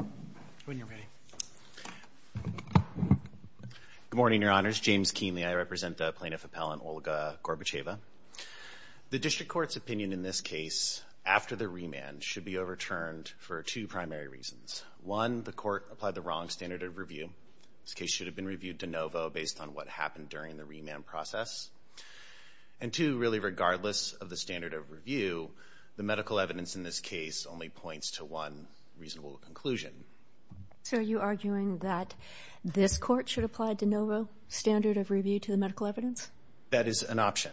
Good morning, Your Honors. James Kienle, I represent the plaintiff appellant Olga Gorbacheva. The district court's opinion in this case after the remand should be overturned for two primary reasons. One, the court applied the wrong standard of review. This case should have been reviewed de novo based on what happened during the remand process. And two, really this only points to one reasonable conclusion. So are you arguing that this court should apply de novo standard of review to the medical evidence? That is an option.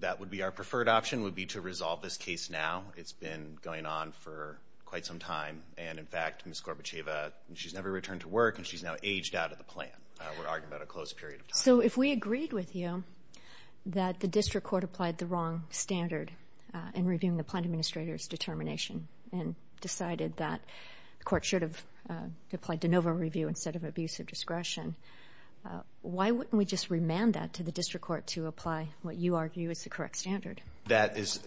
That would be our preferred option, would be to resolve this case now. It's been going on for quite some time. And in fact, Ms. Gorbacheva, she's never returned to work and she's now aged out of the plan. We're arguing about a closed period of time. So if we agreed with you that the district court applied the wrong standard in reviewing the plaintiff's determination and decided that the court should have applied de novo review instead of abuse of discretion, why wouldn't we just remand that to the district court to apply what you argue is the correct standard? That is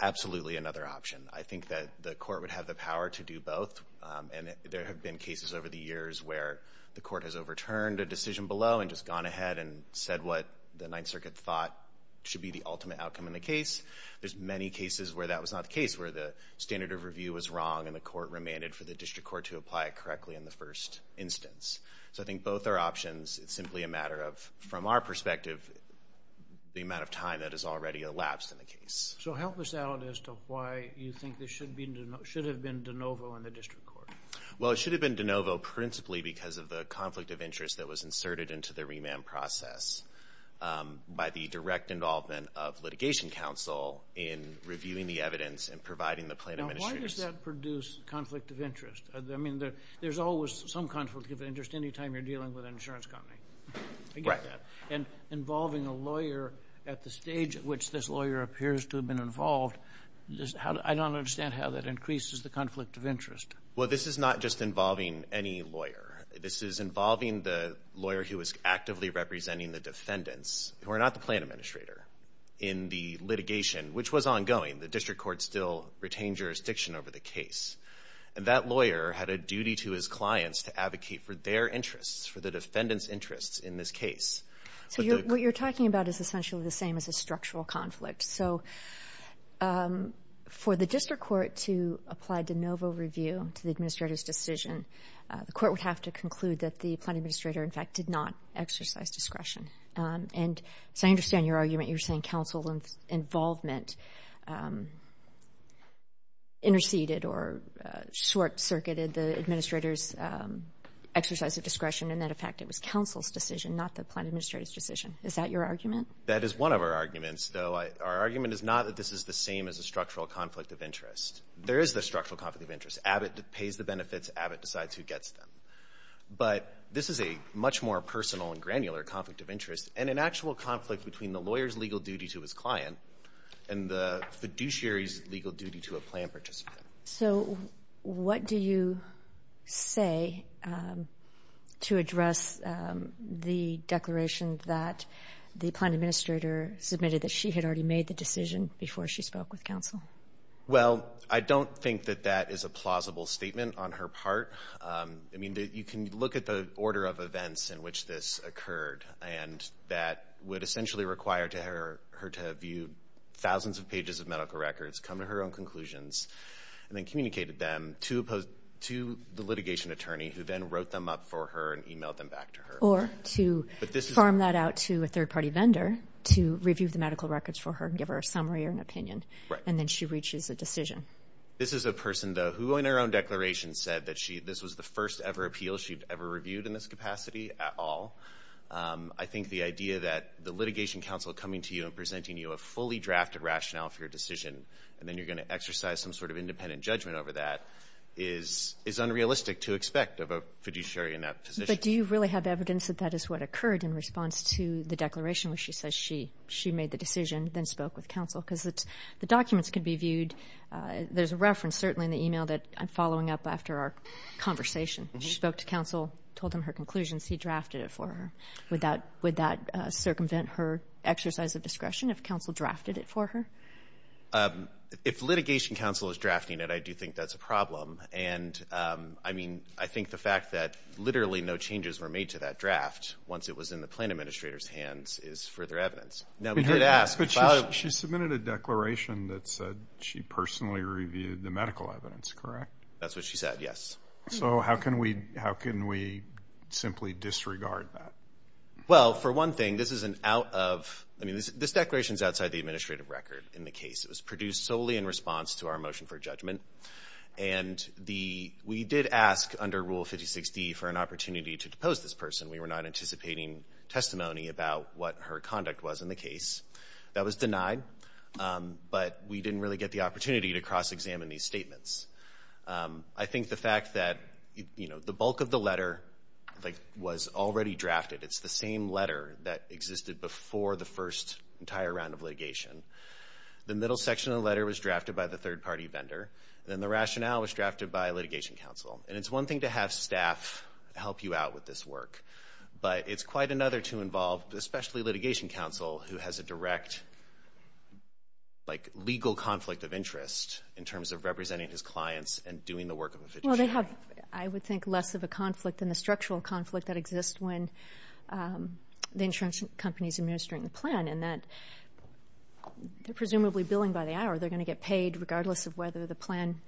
absolutely another option. I think that the court would have the power to do both. And there have been cases over the years where the court has overturned a should be the ultimate outcome in the case. There's many cases where that was not the case, where the standard of review was wrong and the court remanded for the district court to apply it correctly in the first instance. So I think both are options. It's simply a matter of, from our perspective, the amount of time that has already elapsed in the case. So help us out as to why you think this should have been de novo in the district court. Well it should have been de novo principally because of the conflict of interest that was by the direct involvement of litigation counsel in reviewing the evidence and providing the plaintiff's... Now why does that produce conflict of interest? I mean there's always some conflict of interest any time you're dealing with an insurance company. I get that. And involving a lawyer at the stage at which this lawyer appears to have been involved, I don't understand how that increases the conflict of interest. Well this is not just involving any lawyer. This is involving the lawyer who is actively representing the defendants, who are not the plaintiff administrator, in the litigation, which was ongoing. The district court still retained jurisdiction over the case. And that lawyer had a duty to his clients to advocate for their interests, for the defendants' interests in this case. So what you're talking about is essentially the same as a structural conflict. So for the district court to apply de novo review to the administrator's decision, the court would have to conclude that the plaintiff administrator, in fact, did not exercise discretion. And so I understand your argument. You're saying counsel involvement interceded or short-circuited the administrator's exercise of discretion and that in fact it was counsel's decision, not the plaintiff administrator's decision. Is that your argument? That is one of our arguments. Our argument is not that this is the same as a structural conflict of interest. There is the structural conflict of interest. Abbott pays the benefits. Abbott decides who gets them. But this is a much more personal and granular conflict of interest and an actual conflict between the lawyer's legal duty to his client and the fiduciary's legal duty to a plaintiff. So what do you say to address the declaration that the plaintiff administrator submitted that she had already made the decision before she spoke with counsel? Well, I don't think that that is a plausible statement on her part. I mean, you can look at the order of events in which this occurred and that would essentially require her to view thousands of pages of medical records, come to her own conclusions, and then communicated them to the litigation attorney who then wrote them up for her and emailed them back to her. Or to farm that out to a third-party vendor to review the medical records for her and give her a summary or an opinion. And then she reaches a decision. This is a person, though, who in her own declaration said that this was the first ever appeal she'd ever reviewed in this capacity at all. I think the idea that the litigation counsel coming to you and presenting you a fully drafted rationale for your decision, and then you're going to exercise some sort of independent judgment over that, is unrealistic to expect of a fiduciary in that position. But do you really have evidence that that is what occurred in response to the declaration where she says she made the decision, then spoke with counsel? Because the documents can be viewed. There's a reference, certainly, in the email that I'm following up after our conversation. She spoke to counsel, told him her conclusions, he drafted it for her. Would that circumvent her exercise of discretion if counsel drafted it for her? If litigation counsel is drafting it, I do think that's a problem. And I mean, I think the fact that literally no changes were made to that draft once it was in the plan administrator's further evidence. Now, we did ask. But she submitted a declaration that said she personally reviewed the medical evidence, correct? That's what she said, yes. So how can we simply disregard that? Well, for one thing, this is an out of, I mean, this declaration is outside the administrative record in the case. It was produced solely in response to our motion for judgment. And we did ask under Rule 5060 for an opportunity to depose this person. We were not anticipating testimony about what her conduct was in the case. That was denied. But we didn't really get the opportunity to cross-examine these statements. I think the fact that, you know, the bulk of the letter, like, was already drafted. It's the same letter that existed before the first entire round of litigation. The middle section of the letter was drafted by the third party vendor. Then the rationale was drafted by litigation counsel. And it's one thing to have staff help you out with this work. But it's quite another to involve, especially litigation counsel, who has a direct, like, legal conflict of interest in terms of representing his clients and doing the work of a fiduciary. Well, they have, I would think, less of a conflict than the structural conflict that exists when the insurance companies administering the plan. And that they're presumably billing by the hour. They're going to get paid regardless of whether the plan,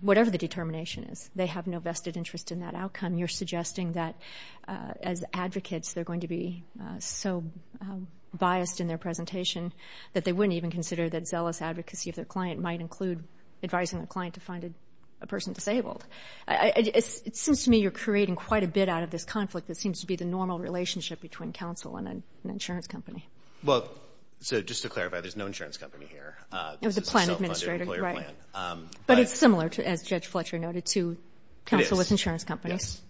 whatever the determination is. They have no vested interest in that outcome. You're suggesting that as advocates they're going to be so biased in their presentation that they wouldn't even consider that zealous advocacy of their client might include advising the client to find a person disabled. It seems to me you're creating quite a bit out of this conflict that seems to be the normal relationship between counsel and an insurance company. Well, so just to clarify, there's no insurance company here. It was the plan administrator. It was a self-funded employer plan. Right. But it's similar, as Judge Fletcher noted, to counsel with insurance companies. It is.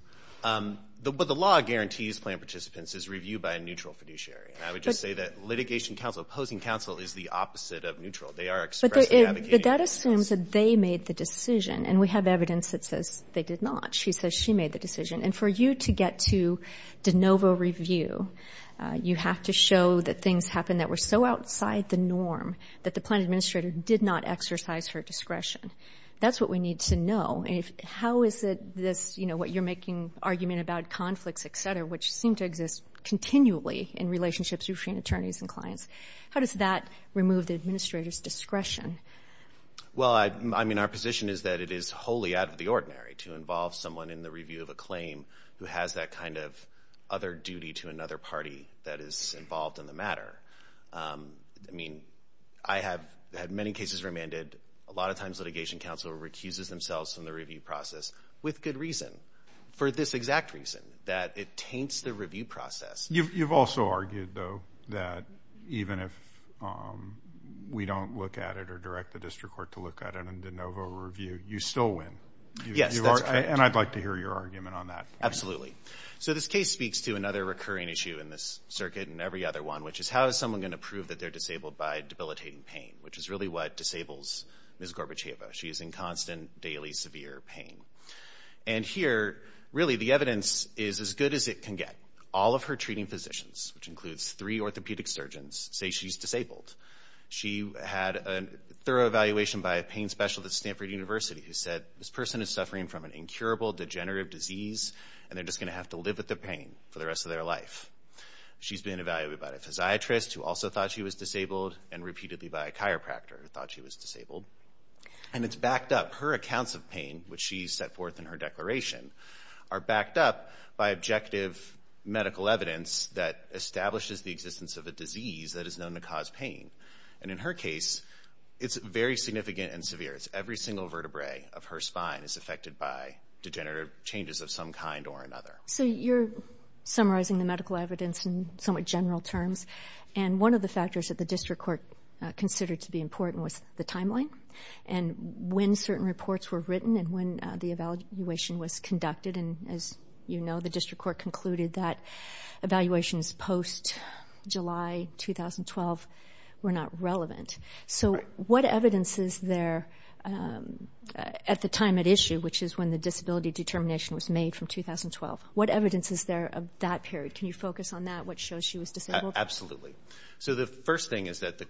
Yes. But the law guarantees plan participants is reviewed by a neutral fiduciary. And I would just say that litigation counsel, opposing counsel, is the opposite of neutral. They are expressly advocating. But that assumes that they made the decision. And we have evidence that says they did not. She says she made the decision. And for you to get to de novo review, you have to show that things happen that were so outside the norm that the plan administrator did not exercise her discretion. That's what we need to know. And how is it this, you know, what you're making argument about conflicts, et cetera, which seem to exist continually in relationships between attorneys and clients, how does that remove the administrator's discretion? Well, I mean, our position is that it is wholly out of the ordinary to involve someone in the review of a claim who has that kind of other duty to another party that is involved in the matter. I mean, I have had many cases remanded. A lot of times litigation counsel recuses themselves from the review process with good reason, for this exact reason, that it taints the review process. You've also argued, though, that even if we don't look at it or direct the district court to look at it in de novo review, you still win. Yes. And I'd like to hear your argument on that. Absolutely. So this case speaks to another recurring issue in this circuit and every other one, which is how is someone going to prove that they're disabled by debilitating pain, which is really what disables Ms. Gorbacheva. She is in constant, daily, severe pain. And here, really, the evidence is as good as it can get. All of her treating physicians, which includes three orthopedic surgeons, say she's disabled. She had a thorough evaluation by a pain specialist at Stanford University who said, this person is suffering from an illness, and they're just going to have to live with the pain for the rest of their life. She's been evaluated by a physiatrist, who also thought she was disabled, and repeatedly by a chiropractor, who thought she was disabled. And it's backed up. Her accounts of pain, which she's set forth in her declaration, are backed up by objective medical evidence that establishes the existence of a disease that is known to cause pain. And in her case, it's very significant and severe. Every single vertebrae of her spine is affected by degenerative changes of some kind or another. So you're summarizing the medical evidence in somewhat general terms. And one of the factors that the district court considered to be important was the timeline, and when certain reports were written, and when the evaluation was conducted. And as you know, the district court concluded that evaluations post-July 2012 were not relevant. So what evidence is there at the time at issue, which is when the disability determination was made from 2012? What evidence is there of that period? Can you focus on that, what shows she was disabled? Absolutely. So the first thing is that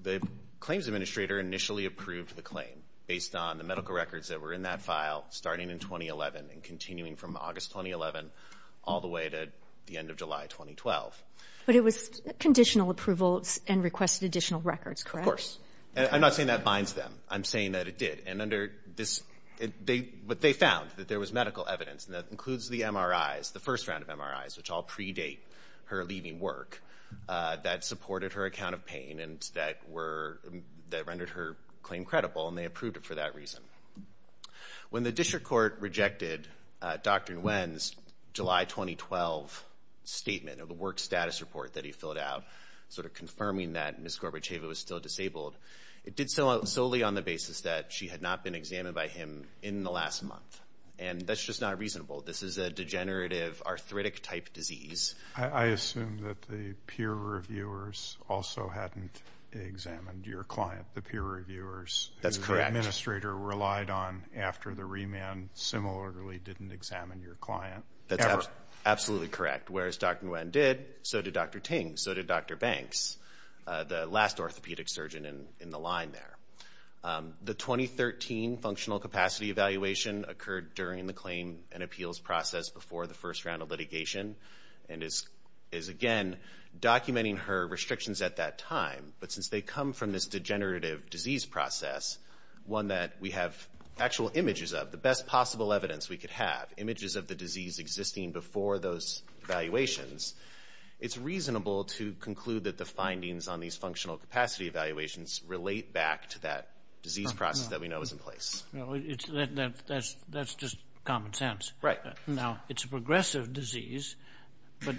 the claims administrator initially approved the claim based on the medical records that were in that file starting in 2011 and continuing from August 2011 all the way to the end of July 2012. But it was conditional approvals and requested additional records, correct? Of course. And I'm not saying that binds them. I'm saying that it did. And what they found, that there was medical evidence, and that includes the MRIs, the first round of MRIs, which all predate her leaving work, that supported her account of pain and that rendered her claim credible, and they approved it for that reason. When the district court rejected Dr. Nguyen's July 2012 statement of the work status report that he filled out, sort of confirming that Ms. Gorbacheva was still disabled, it did solely on the basis that she had not been examined by him in the last month. And that's just not reasonable. This is a degenerative arthritic-type disease. I assume that the peer reviewers also hadn't examined your client, the peer reviewers. That's correct. Who the administrator relied on after the remand similarly didn't examine your client. That's absolutely correct. Whereas Dr. Nguyen did, so did Dr. Ting, so did Dr. Banks, the last orthopedic surgeon in the line there. The 2013 functional capacity evaluation occurred during the claim and appeals process before the first round of litigation, and is, again, documenting her restrictions at that time. But since they come from this degenerative disease process, one that we have actual images of, the best possible evidence we could have, images of the disease existing before those evaluations, it's reasonable to conclude that the findings on these functional capacity evaluations relate back to that disease process that we know is in place. That's just common sense. Right. Now, it's a progressive disease, but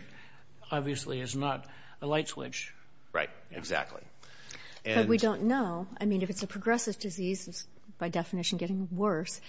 obviously it's not a light switch. Right. Exactly. But we don't know. I mean, if it's a progressive disease, it's, by definition, getting worse.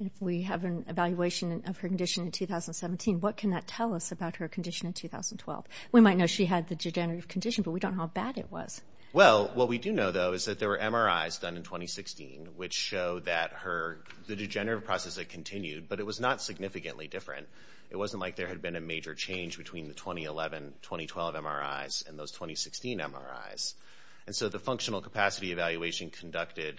If we have an evaluation of her condition in 2017, what can that tell us about her condition in 2012? We might know she had the degenerative condition, but we don't know how bad it was. Well, what we do know, though, is that there were MRIs done in 2016 which showed that her, the degenerative process had continued, but it was not significantly different. It wasn't like there had been a major change between the 2011-2012 MRIs and those 2016 MRIs. And so the functional capacity evaluation conducted,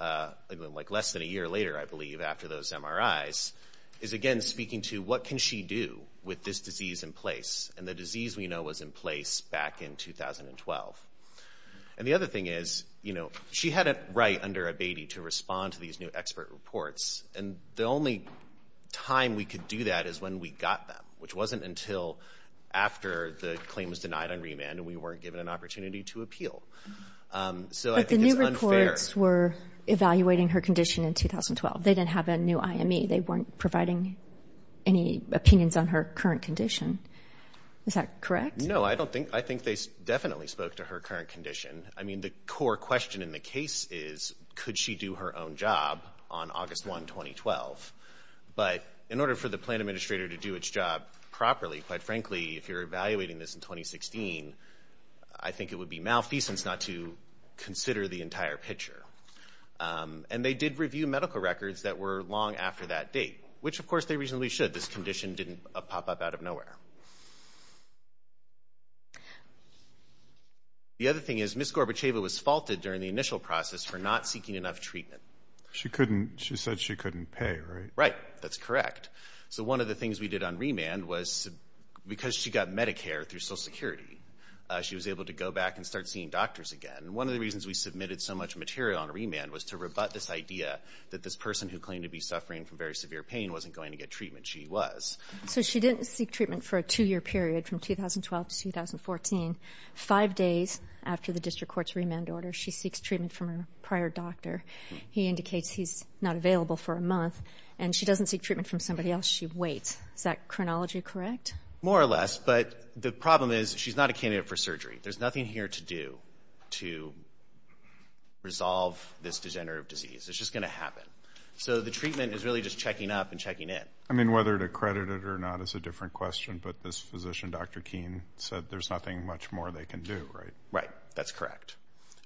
like, less than a year later, I believe, after those MRIs, is, again, speaking to what can she do with this disease in place? And the disease we know was in place back in 2012. And the other thing is, you know, she had it right under Abatey to respond to these new expert reports. And the only time we could do that is when we got them, which wasn't until after the claim was denied on remand and we weren't given an opportunity to appeal. So I think it's unfair. But the new reports were evaluating her condition in 2012. They didn't have a new IME. They weren't providing any opinions on her current condition. Is that correct? No, I don't think. I think they definitely spoke to her current condition. I mean, the core question in the case is, could she do her own job on August 1, 2012? But in order for the plan administrator to do its job properly, quite frankly, if you're evaluating this in 2016, I think it would be malfeasance not to consider the entire picture. And they did review medical records that were long after that date, which, of course, they reasonably should. The other thing is Ms. Gorbacheva was faulted during the initial process for not seeking enough treatment. She said she couldn't pay, right? Right. That's correct. So one of the things we did on remand was because she got Medicare through Social Security, she was able to go back and start seeing doctors again. One of the reasons we submitted so much material on remand was to rebut this idea that this person who claimed to be suffering from very severe pain wasn't going to get treatment. She was. So she didn't seek treatment for a two-year period from 2012 to 2014. Five days after the district court's remand order, she seeks treatment from her prior doctor. He indicates he's not available for a month, and she doesn't seek treatment from somebody else. She waits. Is that chronology correct? More or less, but the problem is she's not a candidate for surgery. There's nothing here to do to resolve this degenerative disease. It's just going to happen. So the treatment is really just checking up and checking in. I mean, whether to credit it or not is a different question, but this physician, Dr. Keene, said there's nothing much more they can do, right? Right. That's correct.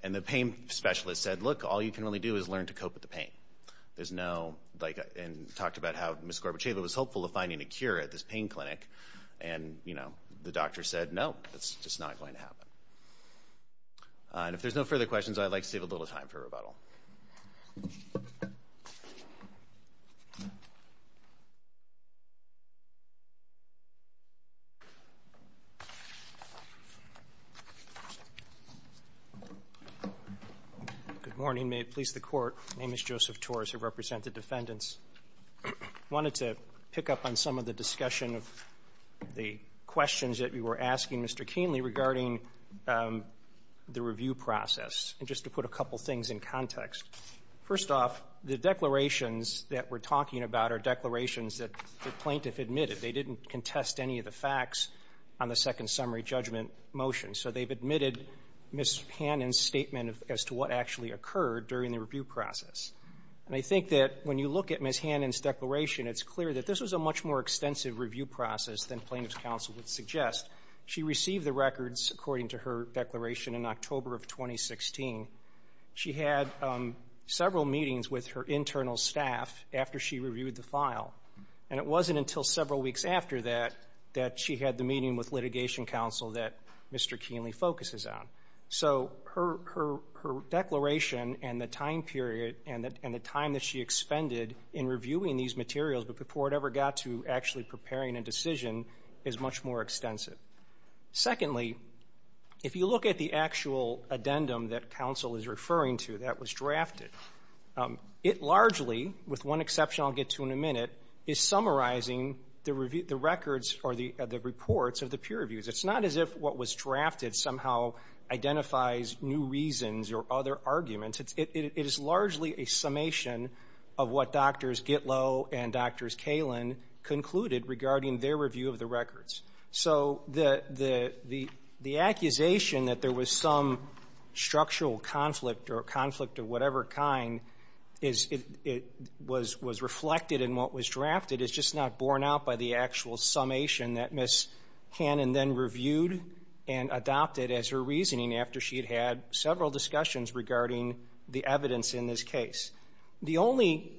And the pain specialist said, look, all you can really do is learn to cope with the pain. There's no, like, and talked about how Ms. Gorbacheva was hopeful of finding a cure at this pain clinic, and, you know, the doctor said, no, it's just not going to happen. And if there's no further questions, I'd like to save a little time for rebuttal. Good morning. May it please the Court, my name is Joseph Torres. I represent the defendants. I wanted to pick up on some of the discussion of the questions that we were asking Mr. Keene mainly regarding the review process, and just to put a couple things in context. First off, the declarations that we're talking about are declarations that the plaintiff admitted. They didn't contest any of the facts on the second summary judgment motion, so they've admitted Ms. Hannon's statement as to what actually occurred during the review process. And I think that when you look at Ms. Hannon's declaration, it's clear that this was a much more extensive review process than plaintiff's counsel would suggest. She received the records, according to her declaration, in October of 2016. She had several meetings with her internal staff after she reviewed the file, and it wasn't until several weeks after that that she had the meeting with litigation counsel that Mr. Keene focuses on. So her declaration and the time period and the time that she expended in reviewing these materials, but before it ever got to actually preparing a decision, is much more extensive. Secondly, if you look at the actual addendum that counsel is referring to that was drafted, it largely, with one exception I'll get to in a minute, is summarizing the reports of the peer reviews. It's not as if what was drafted somehow identifies new reasons or other arguments. It is largely a summation of what Drs. Gitlow and Drs. Kalin concluded regarding their review of the records. So the accusation that there was some structural conflict or conflict of whatever kind was reflected in what was drafted. It's just not borne out by the actual summation that Ms. Hannon then reviewed and adopted as her reasoning after she had had several discussions regarding the evidence in this case. The only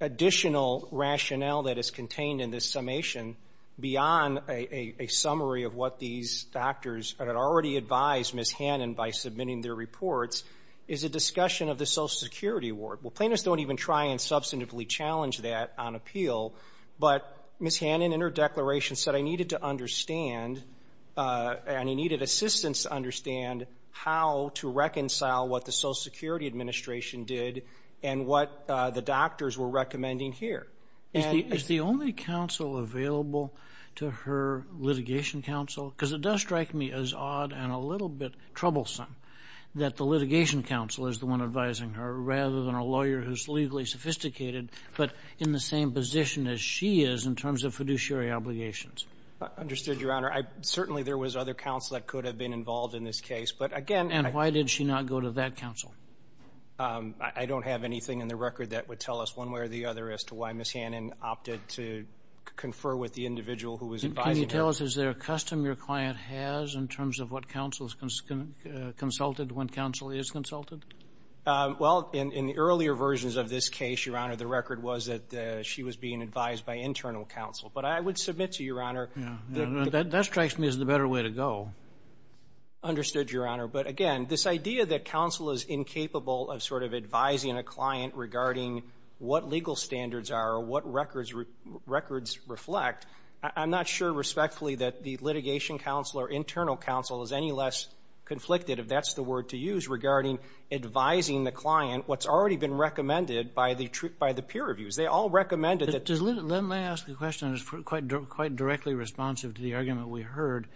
additional rationale that is contained in this summation, beyond a summary of what these doctors had already advised Ms. Hannon by submitting their reports, is a discussion of the Social Security Award. Well, plaintiffs don't even try and substantively challenge that on appeal, but Ms. Hannon in her declaration said I needed to understand and I needed assistance to understand how to reconcile what the Social Security Administration did and what the doctors were recommending here. Is the only counsel available to her litigation counsel? Because it does strike me as odd and a little bit troublesome that the litigation counsel is the one advising her, rather than a lawyer who is legally sophisticated, but in the same position as she is in terms of fiduciary obligations. Understood, Your Honor. Certainly there was other counsel that could have been involved in this case, but again ---- And why did she not go to that counsel? I don't have anything in the record that would tell us one way or the other as to why Ms. Hannon opted to confer with the individual who was advising her. Can you tell us, is there a custom your client has in terms of what counsel has consulted when counsel is consulted? Well, in the earlier versions of this case, Your Honor, the record was that she was being advised by internal counsel. But I would submit to you, Your Honor ---- That strikes me as the better way to go. Understood, Your Honor. But again, this idea that counsel is incapable of sort of advising a client regarding what legal standards are or what records reflect, I'm not sure respectfully that the litigation counsel or internal counsel is any less conflicted, if that's the word to use regarding advising the client what's already been recommended by the peer reviews. They all recommended that ---- Let me ask a question that's quite directly responsive to the argument we heard.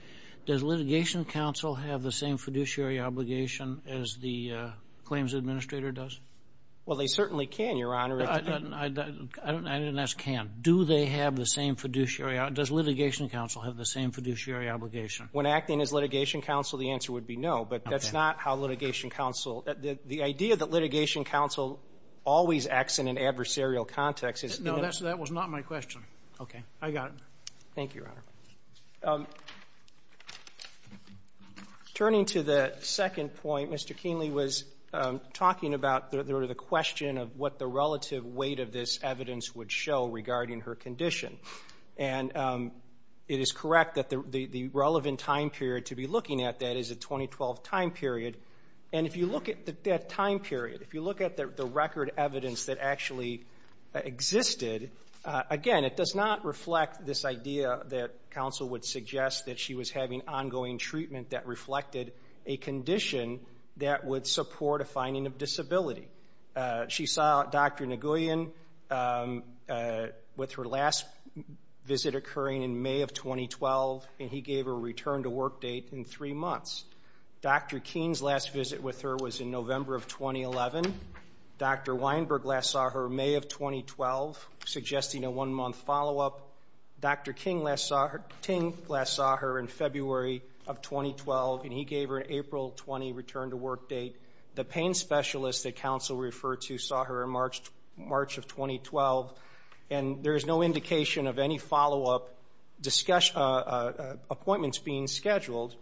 Does litigation counsel have the same fiduciary obligation as the claims administrator does? Well, they certainly can, Your Honor. I didn't ask can. Do they have the same fiduciary ---- Does litigation counsel have the same fiduciary obligation? When acting as litigation counsel, the answer would be no. Okay. But that's not how litigation counsel ---- The idea that litigation counsel always acts in an adversarial context is ---- No, that was not my question. I got it. Thank you, Your Honor. Turning to the second point, Mr. Kienle was talking about sort of the question of what the relative weight of this evidence would show regarding her condition. And it is correct that the relevant time period to be looking at that is a 2012 time period. And if you look at that time period, if you look at the record evidence that actually existed, again, it does not reflect this idea that counsel would suggest that she was having ongoing treatment that reflected a condition that would support a finding of disability. She saw Dr. Nguyen with her last visit occurring in May of 2012, and he gave her a return-to-work date in three months. Dr. King's last visit with her was in November of 2011. Dr. Weinberg last saw her in May of 2012, suggesting a one-month follow-up. Dr. King last saw her in February of 2012, and he gave her an April 20 return-to-work date. The pain specialist that counsel referred to saw her in March of 2012, and there is no indication of any follow-up appointments being scheduled.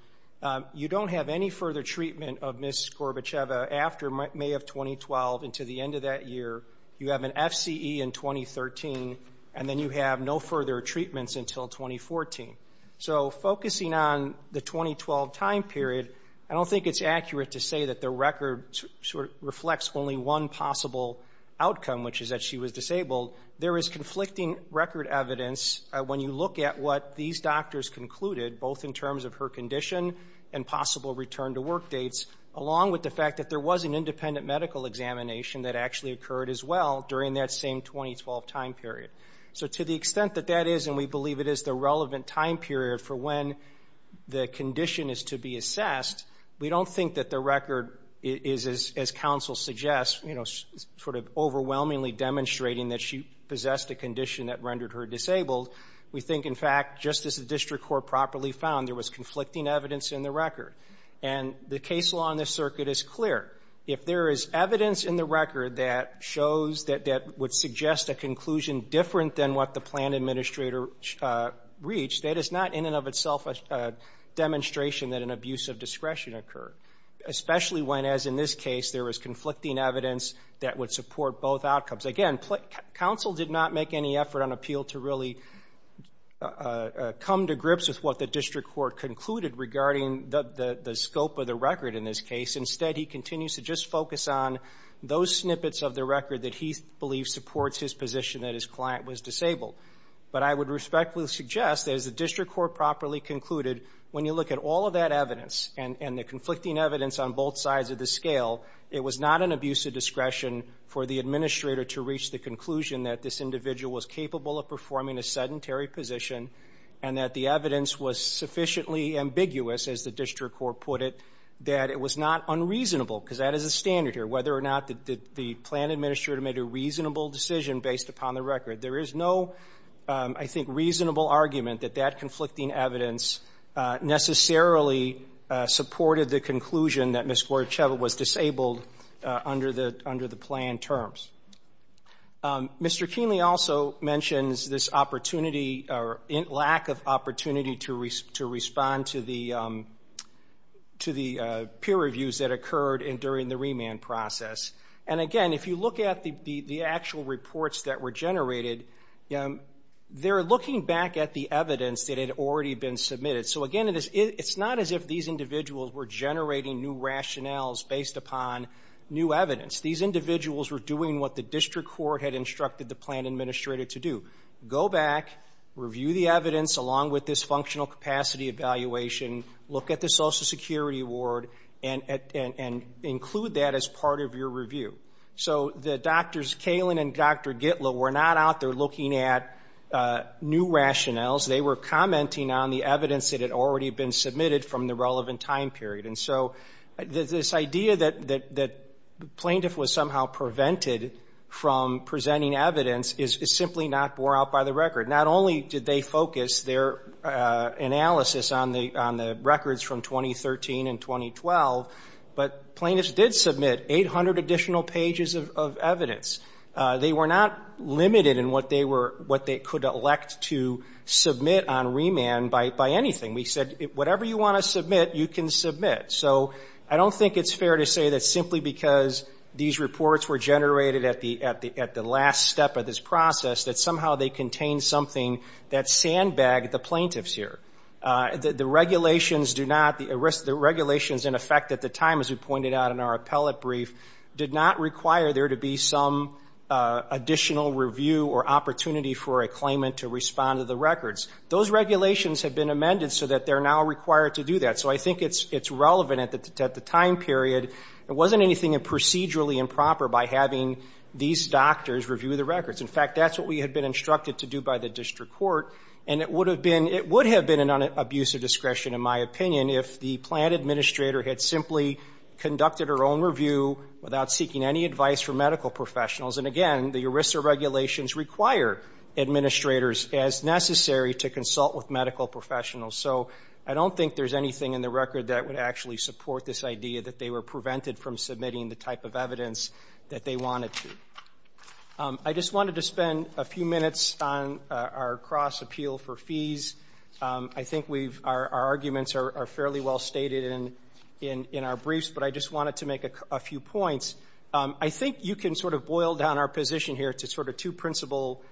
You don't have any further treatment of Ms. Gorbacheva after May of 2012 and to the end of that year. You have an FCE in 2013, and then you have no further treatments until 2014. So focusing on the 2012 time period, I don't think it's accurate to say that the record sort of reflects only one possible outcome, which is that she was disabled. There is conflicting record evidence when you look at what these doctors concluded, both in terms of her condition and possible return-to-work dates, along with the fact that there was an independent medical examination that actually occurred as well during that same 2012 time period. So to the extent that that is, and we believe it is the relevant time period for when the condition is to be assessed, we don't think that the record is, as counsel suggests, sort of overwhelmingly demonstrating that she possessed a condition that rendered her disabled. We think, in fact, just as the district court properly found, there was conflicting evidence in the record. And the case law in this circuit is clear. If there is evidence in the record that would suggest a conclusion different than what the plan administrator reached, that is not in and of itself a demonstration that an abuse of discretion occurred, especially when, as in this case, there was conflicting evidence that would support both outcomes. Again, counsel did not make any effort on appeal to really come to grips with what the district court concluded regarding the scope of the record in this case. Instead, he continues to just focus on those snippets of the record that he believes supports his position that his client was disabled. But I would respectfully suggest, as the district court properly concluded, when you look at all of that evidence and the conflicting evidence on both sides of the scale, it was not an abuse of discretion for the administrator to reach the conclusion that this individual was capable of performing a sedentary position and that the evidence was sufficiently ambiguous, as the district court put it, that it was not unreasonable, because that is a standard here, whether or not the plan administrator made a reasonable decision based upon the record. There is no, I think, reasonable argument that that conflicting evidence necessarily supported the conclusion that Ms. Goracheva was disabled under the plan terms. Mr. Keenly also mentions this opportunity, or lack of opportunity, to respond to the peer reviews that occurred during the remand process. And again, if you look at the actual reports that were generated, they're looking back at the evidence that had already been submitted. So again, it's not as if these individuals were generating new rationales based upon new evidence. These individuals were doing what the district court had instructed the plan administrator to do, go back, review the evidence along with this functional capacity evaluation, look at the Social Security Award, and include that as part of your review. So the doctors, Kalin and Dr. Gitlow, were not out there looking at new rationales. They were commenting on the evidence that had already been submitted from the relevant time period. And so this idea that the plaintiff was somehow prevented from presenting evidence is simply not bore out by the record. Not only did they focus their analysis on the records from 2013 and 2012, but plaintiffs did submit 800 additional pages of evidence. They were not limited in what they could elect to submit on remand by anything. We said, whatever you want to submit, you can submit. So I don't think it's fair to say that simply because these reports were generated at the last step of this process, that somehow they contained something that sandbagged the plaintiffs here. The regulations do not, the regulations in effect at the time, as we pointed out in our appellate brief, did not require there to be some additional review or opportunity for a claimant to respond to the records. Those regulations have been amended so that they're now required to do that. So I think it's relevant at the time period. It wasn't anything procedurally improper by having these doctors review the records. In fact, that's what we had been instructed to do by the district court. And it would have been an abuse of discretion, in my opinion, if the plaintiff administrator had simply conducted her own review without seeking any advice from medical professionals. And again, the ERISA regulations require administrators, as necessary, to consult with medical professionals. So I don't think there's anything in the record that would actually support this idea that they were prevented from submitting the type of evidence that they wanted to. I just wanted to spend a few minutes on our cross-appeal for fees. I think our arguments are fairly well stated in our briefs, but I just wanted to make a few points. I think you can sort of boil down our position here to sort of two principal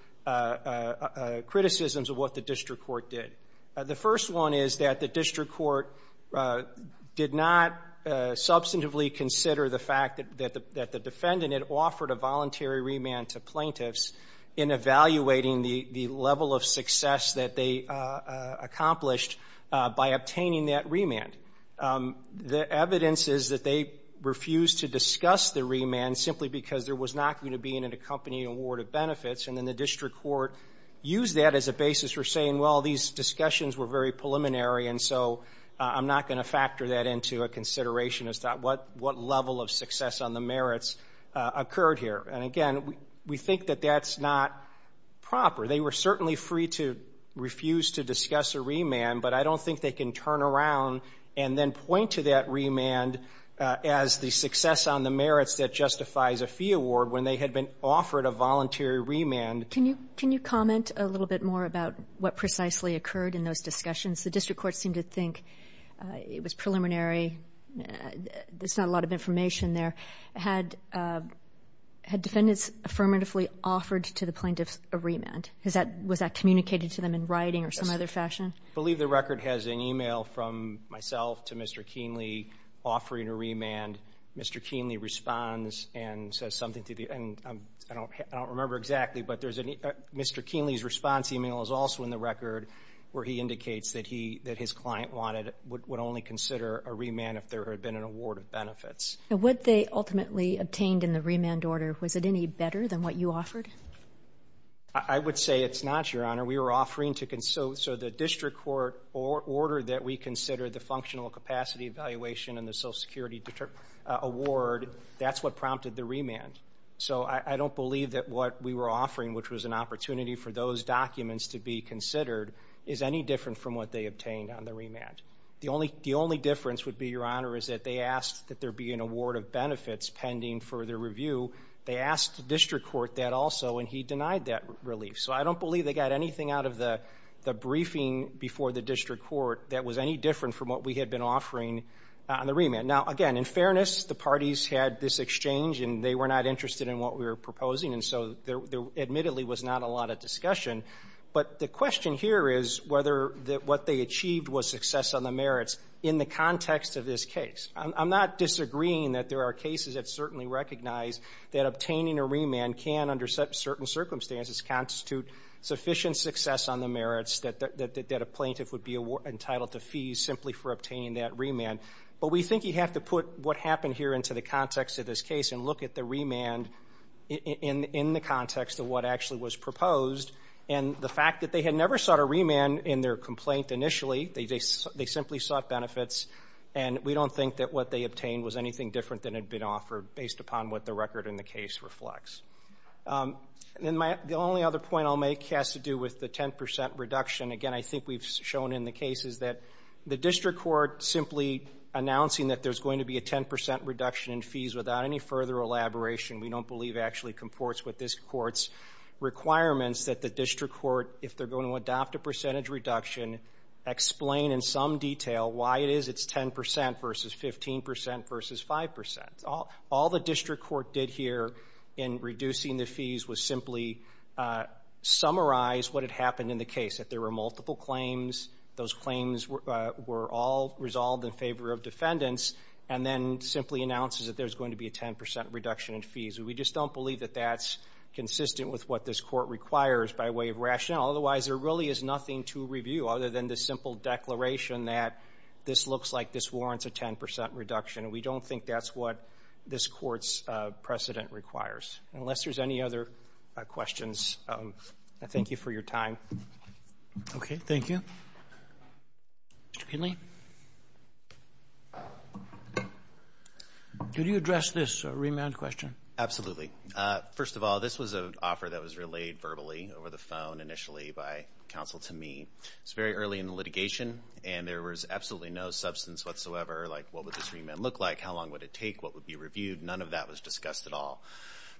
criticisms of what the district court did. The first one is that the district court did not substantively consider the fact that the defendant had offered a voluntary remand to plaintiffs in evaluating the level of success that they accomplished by obtaining that remand. The evidence is that they refused to discuss the remand simply because there was not going to be an accompanying award of benefits, and then the district court used that as a basis for saying, well, these discussions were very preliminary, and so I'm not going to factor that into a consideration as to what level of success on the merits occurred here. And again, we think that that's not proper. They were certainly free to refuse to discuss a remand, but I don't think they can turn around and then point to that remand as the success on the merits that justifies a fee award when they had been offered a voluntary remand. Can you comment a little bit more about what precisely occurred in those discussions? The district court seemed to think it was preliminary, there's not a lot of information there. Had defendants affirmatively offered to the plaintiffs a remand? Was that communicated to them in writing or some other fashion? I believe the record has an e-mail from myself to Mr. Kienle offering a remand. Mr. Kienle responds and says something to the end. I don't remember exactly, but Mr. Kienle's response e-mail is also in the record where he indicates that his client would only consider a remand if there had been an award of benefits. Now, what they ultimately obtained in the remand order, was it any better than what you offered? I would say it's not, Your Honor. We were offering to consult. So the district court order that we consider the functional capacity evaluation and the Social Security award, that's what prompted the remand. So I don't believe that what we were offering, which was an opportunity for those documents to be considered, is any different from what they obtained on the remand. The only difference would be, Your Honor, is that they asked that there be an award of benefits pending for the review. They asked the district court that also, and he denied that relief. So I don't believe they got anything out of the briefing before the district court that was any different from what we had been offering on the remand. Now, again, in fairness, the parties had this exchange, and they were not interested in what we were proposing, and so there admittedly was not a lot of discussion. But the question here is whether what they achieved was success on the merits in the context of this case. I'm not disagreeing that there are cases that certainly recognize that obtaining a remand can, under certain circumstances, constitute sufficient success on the merits that a plaintiff would be entitled to fees simply for obtaining that remand. But we think you have to put what happened here into the context of this case and look at the remand in the context of what actually was proposed. And the fact that they had never sought a remand in their complaint initially, they simply sought benefits, and we don't think that what they obtained was anything different than had been offered based upon what the record in the case reflects. The only other point I'll make has to do with the 10% reduction. Again, I think we've shown in the cases that the district court simply announcing that there's going to be a 10% reduction in fees without any further elaboration, we don't believe actually comports with this court's requirements, that the district court, if they're going to adopt a percentage reduction, explain in some detail why it is it's 10% versus 15% versus 5%. All the district court did here in reducing the fees was simply summarize what had happened in the case, that there were multiple claims, those claims were all resolved in favor of defendants, and then simply announces that there's going to be a 10% reduction in fees. We just don't believe that that's consistent with what this court requires by way of rationale. Otherwise, there really is nothing to review other than the simple declaration that this looks like this warrants a 10% reduction, and we don't think that's what this court's precedent requires. Unless there's any other questions, I thank you for your time. Okay, thank you. Mr. Kinley? Could you address this remand question? Absolutely. First of all, this was an offer that was relayed verbally over the phone initially by counsel to me. It was very early in the litigation, and there was absolutely no substance whatsoever, like what would this remand look like, how long would it take, what would be reviewed. None of that was discussed at all.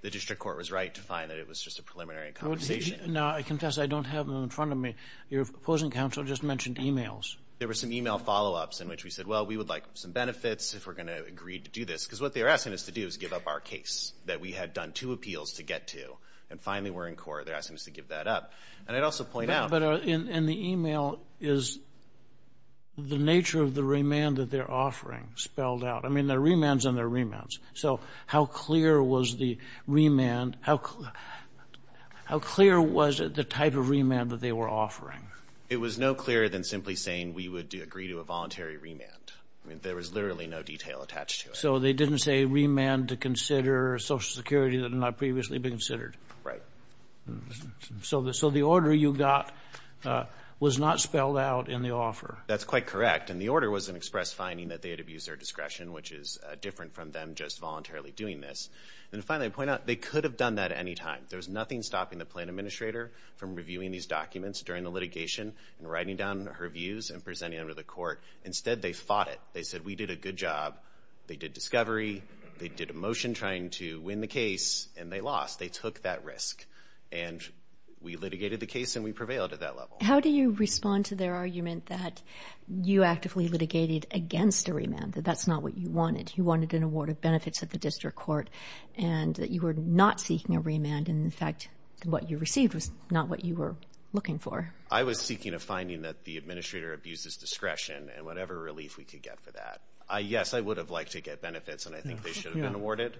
The district court was right to find that it was just a preliminary conversation. Now, I confess I don't have them in front of me. Your opposing counsel just mentioned e-mails. There were some e-mail follow-ups in which we said, well, we would like some benefits if we're going to agree to do this, because what they're asking us to do is give up our case that we had done two appeals to get to, and finally we're in court, they're asking us to give that up. And I'd also point out – But in the e-mail is the nature of the remand that they're offering spelled out. I mean, they're remands and they're remands. So how clear was the remand – how clear was the type of remand that they were offering? It was no clearer than simply saying we would agree to a voluntary remand. I mean, there was literally no detail attached to it. So they didn't say remand to consider Social Security that had not previously been considered. Right. So the order you got was not spelled out in the offer. That's quite correct. And the order was an express finding that they had abused their discretion, which is different from them just voluntarily doing this. And finally, I'd point out they could have done that at any time. There was nothing stopping the plan administrator from reviewing these documents during the litigation and writing down her views and presenting them to the court. Instead, they fought it. They said we did a good job. They did discovery. They did a motion trying to win the case, and they lost. They took that risk. And we litigated the case and we prevailed at that level. How do you respond to their argument that you actively litigated against a remand, that that's not what you wanted? You wanted an award of benefits at the district court and that you were not seeking a remand and, in fact, what you received was not what you were looking for? I was seeking a finding that the administrator abused his discretion and whatever relief we could get for that. Yes, I would have liked to get benefits, and I think they should have been awarded.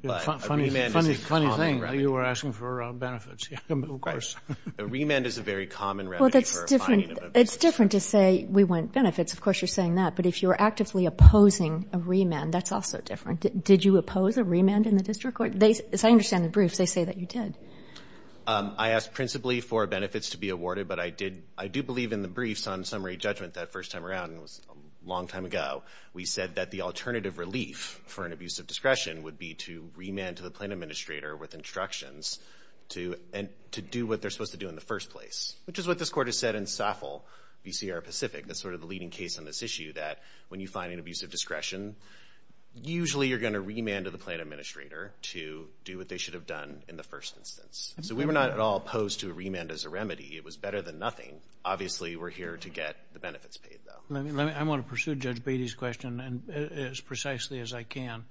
But a remand is a common remedy. Funny thing, you were asking for benefits, of course. A remand is a very common remedy for a finding of abuse. It's different to say we want benefits. Of course, you're saying that. But if you're actively opposing a remand, that's also different. Did you oppose a remand in the district court? As I understand the briefs, they say that you did. I asked principally for benefits to be awarded, but I do believe in the briefs on summary judgment that first time around, and it was a long time ago, we said that the alternative relief for an abuse of discretion would be to remand to the plaintiff administrator with instructions to do what they're supposed to do in the first place, which is what this Court has said in SAFL, VCR Pacific. That's sort of the leading case on this issue, that when you find an abuse of discretion, usually you're going to remand to the plaintiff administrator to do what they should have done in the first instance. So we were not at all opposed to a remand as a remedy. It was better than nothing. Obviously, we're here to get the benefits paid, though. I want to pursue Judge Beatty's question as precisely as I can.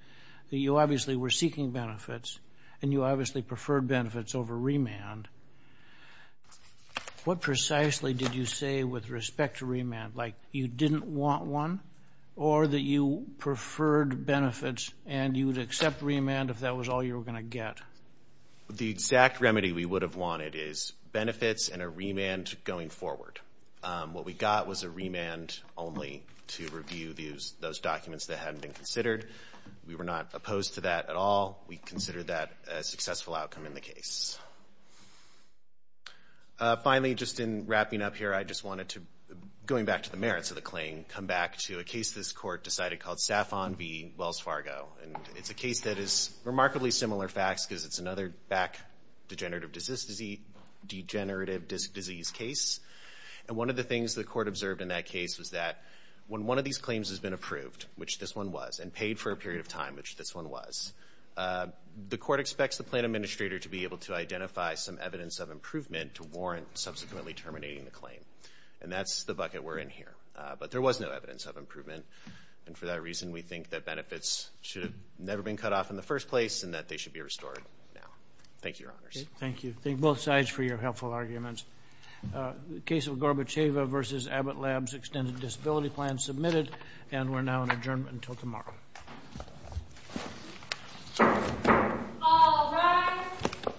You obviously were seeking benefits, and you obviously preferred benefits over remand. What precisely did you say with respect to remand? Like you didn't want one or that you preferred benefits and you would accept remand if that was all you were going to get? The exact remedy we would have wanted is benefits and a remand going forward. What we got was a remand only to review those documents that hadn't been considered. We were not opposed to that at all. We considered that a successful outcome in the case. Finally, just in wrapping up here, I just wanted to, going back to the merits of the claim, come back to a case this court decided called Safon v. Wells Fargo. And it's a case that is remarkably similar facts because it's another back degenerative disc disease case. And one of the things the court observed in that case was that when one of these claims has been approved, which this one was, and paid for a period of time, which this one was, the court expects the plaintiff administrator to be able to identify some evidence of improvement to warrant subsequently terminating the claim. And that's the bucket we're in here. But there was no evidence of improvement, and for that reason we think that benefits should have never been cut off in the first place and that they should be restored now. Thank you, Your Honors. Thank you. Thank both sides for your helpful arguments. The case of Gorbacheva v. Abbott Labs Extended Disability Plan submitted, and we're now in adjournment until tomorrow.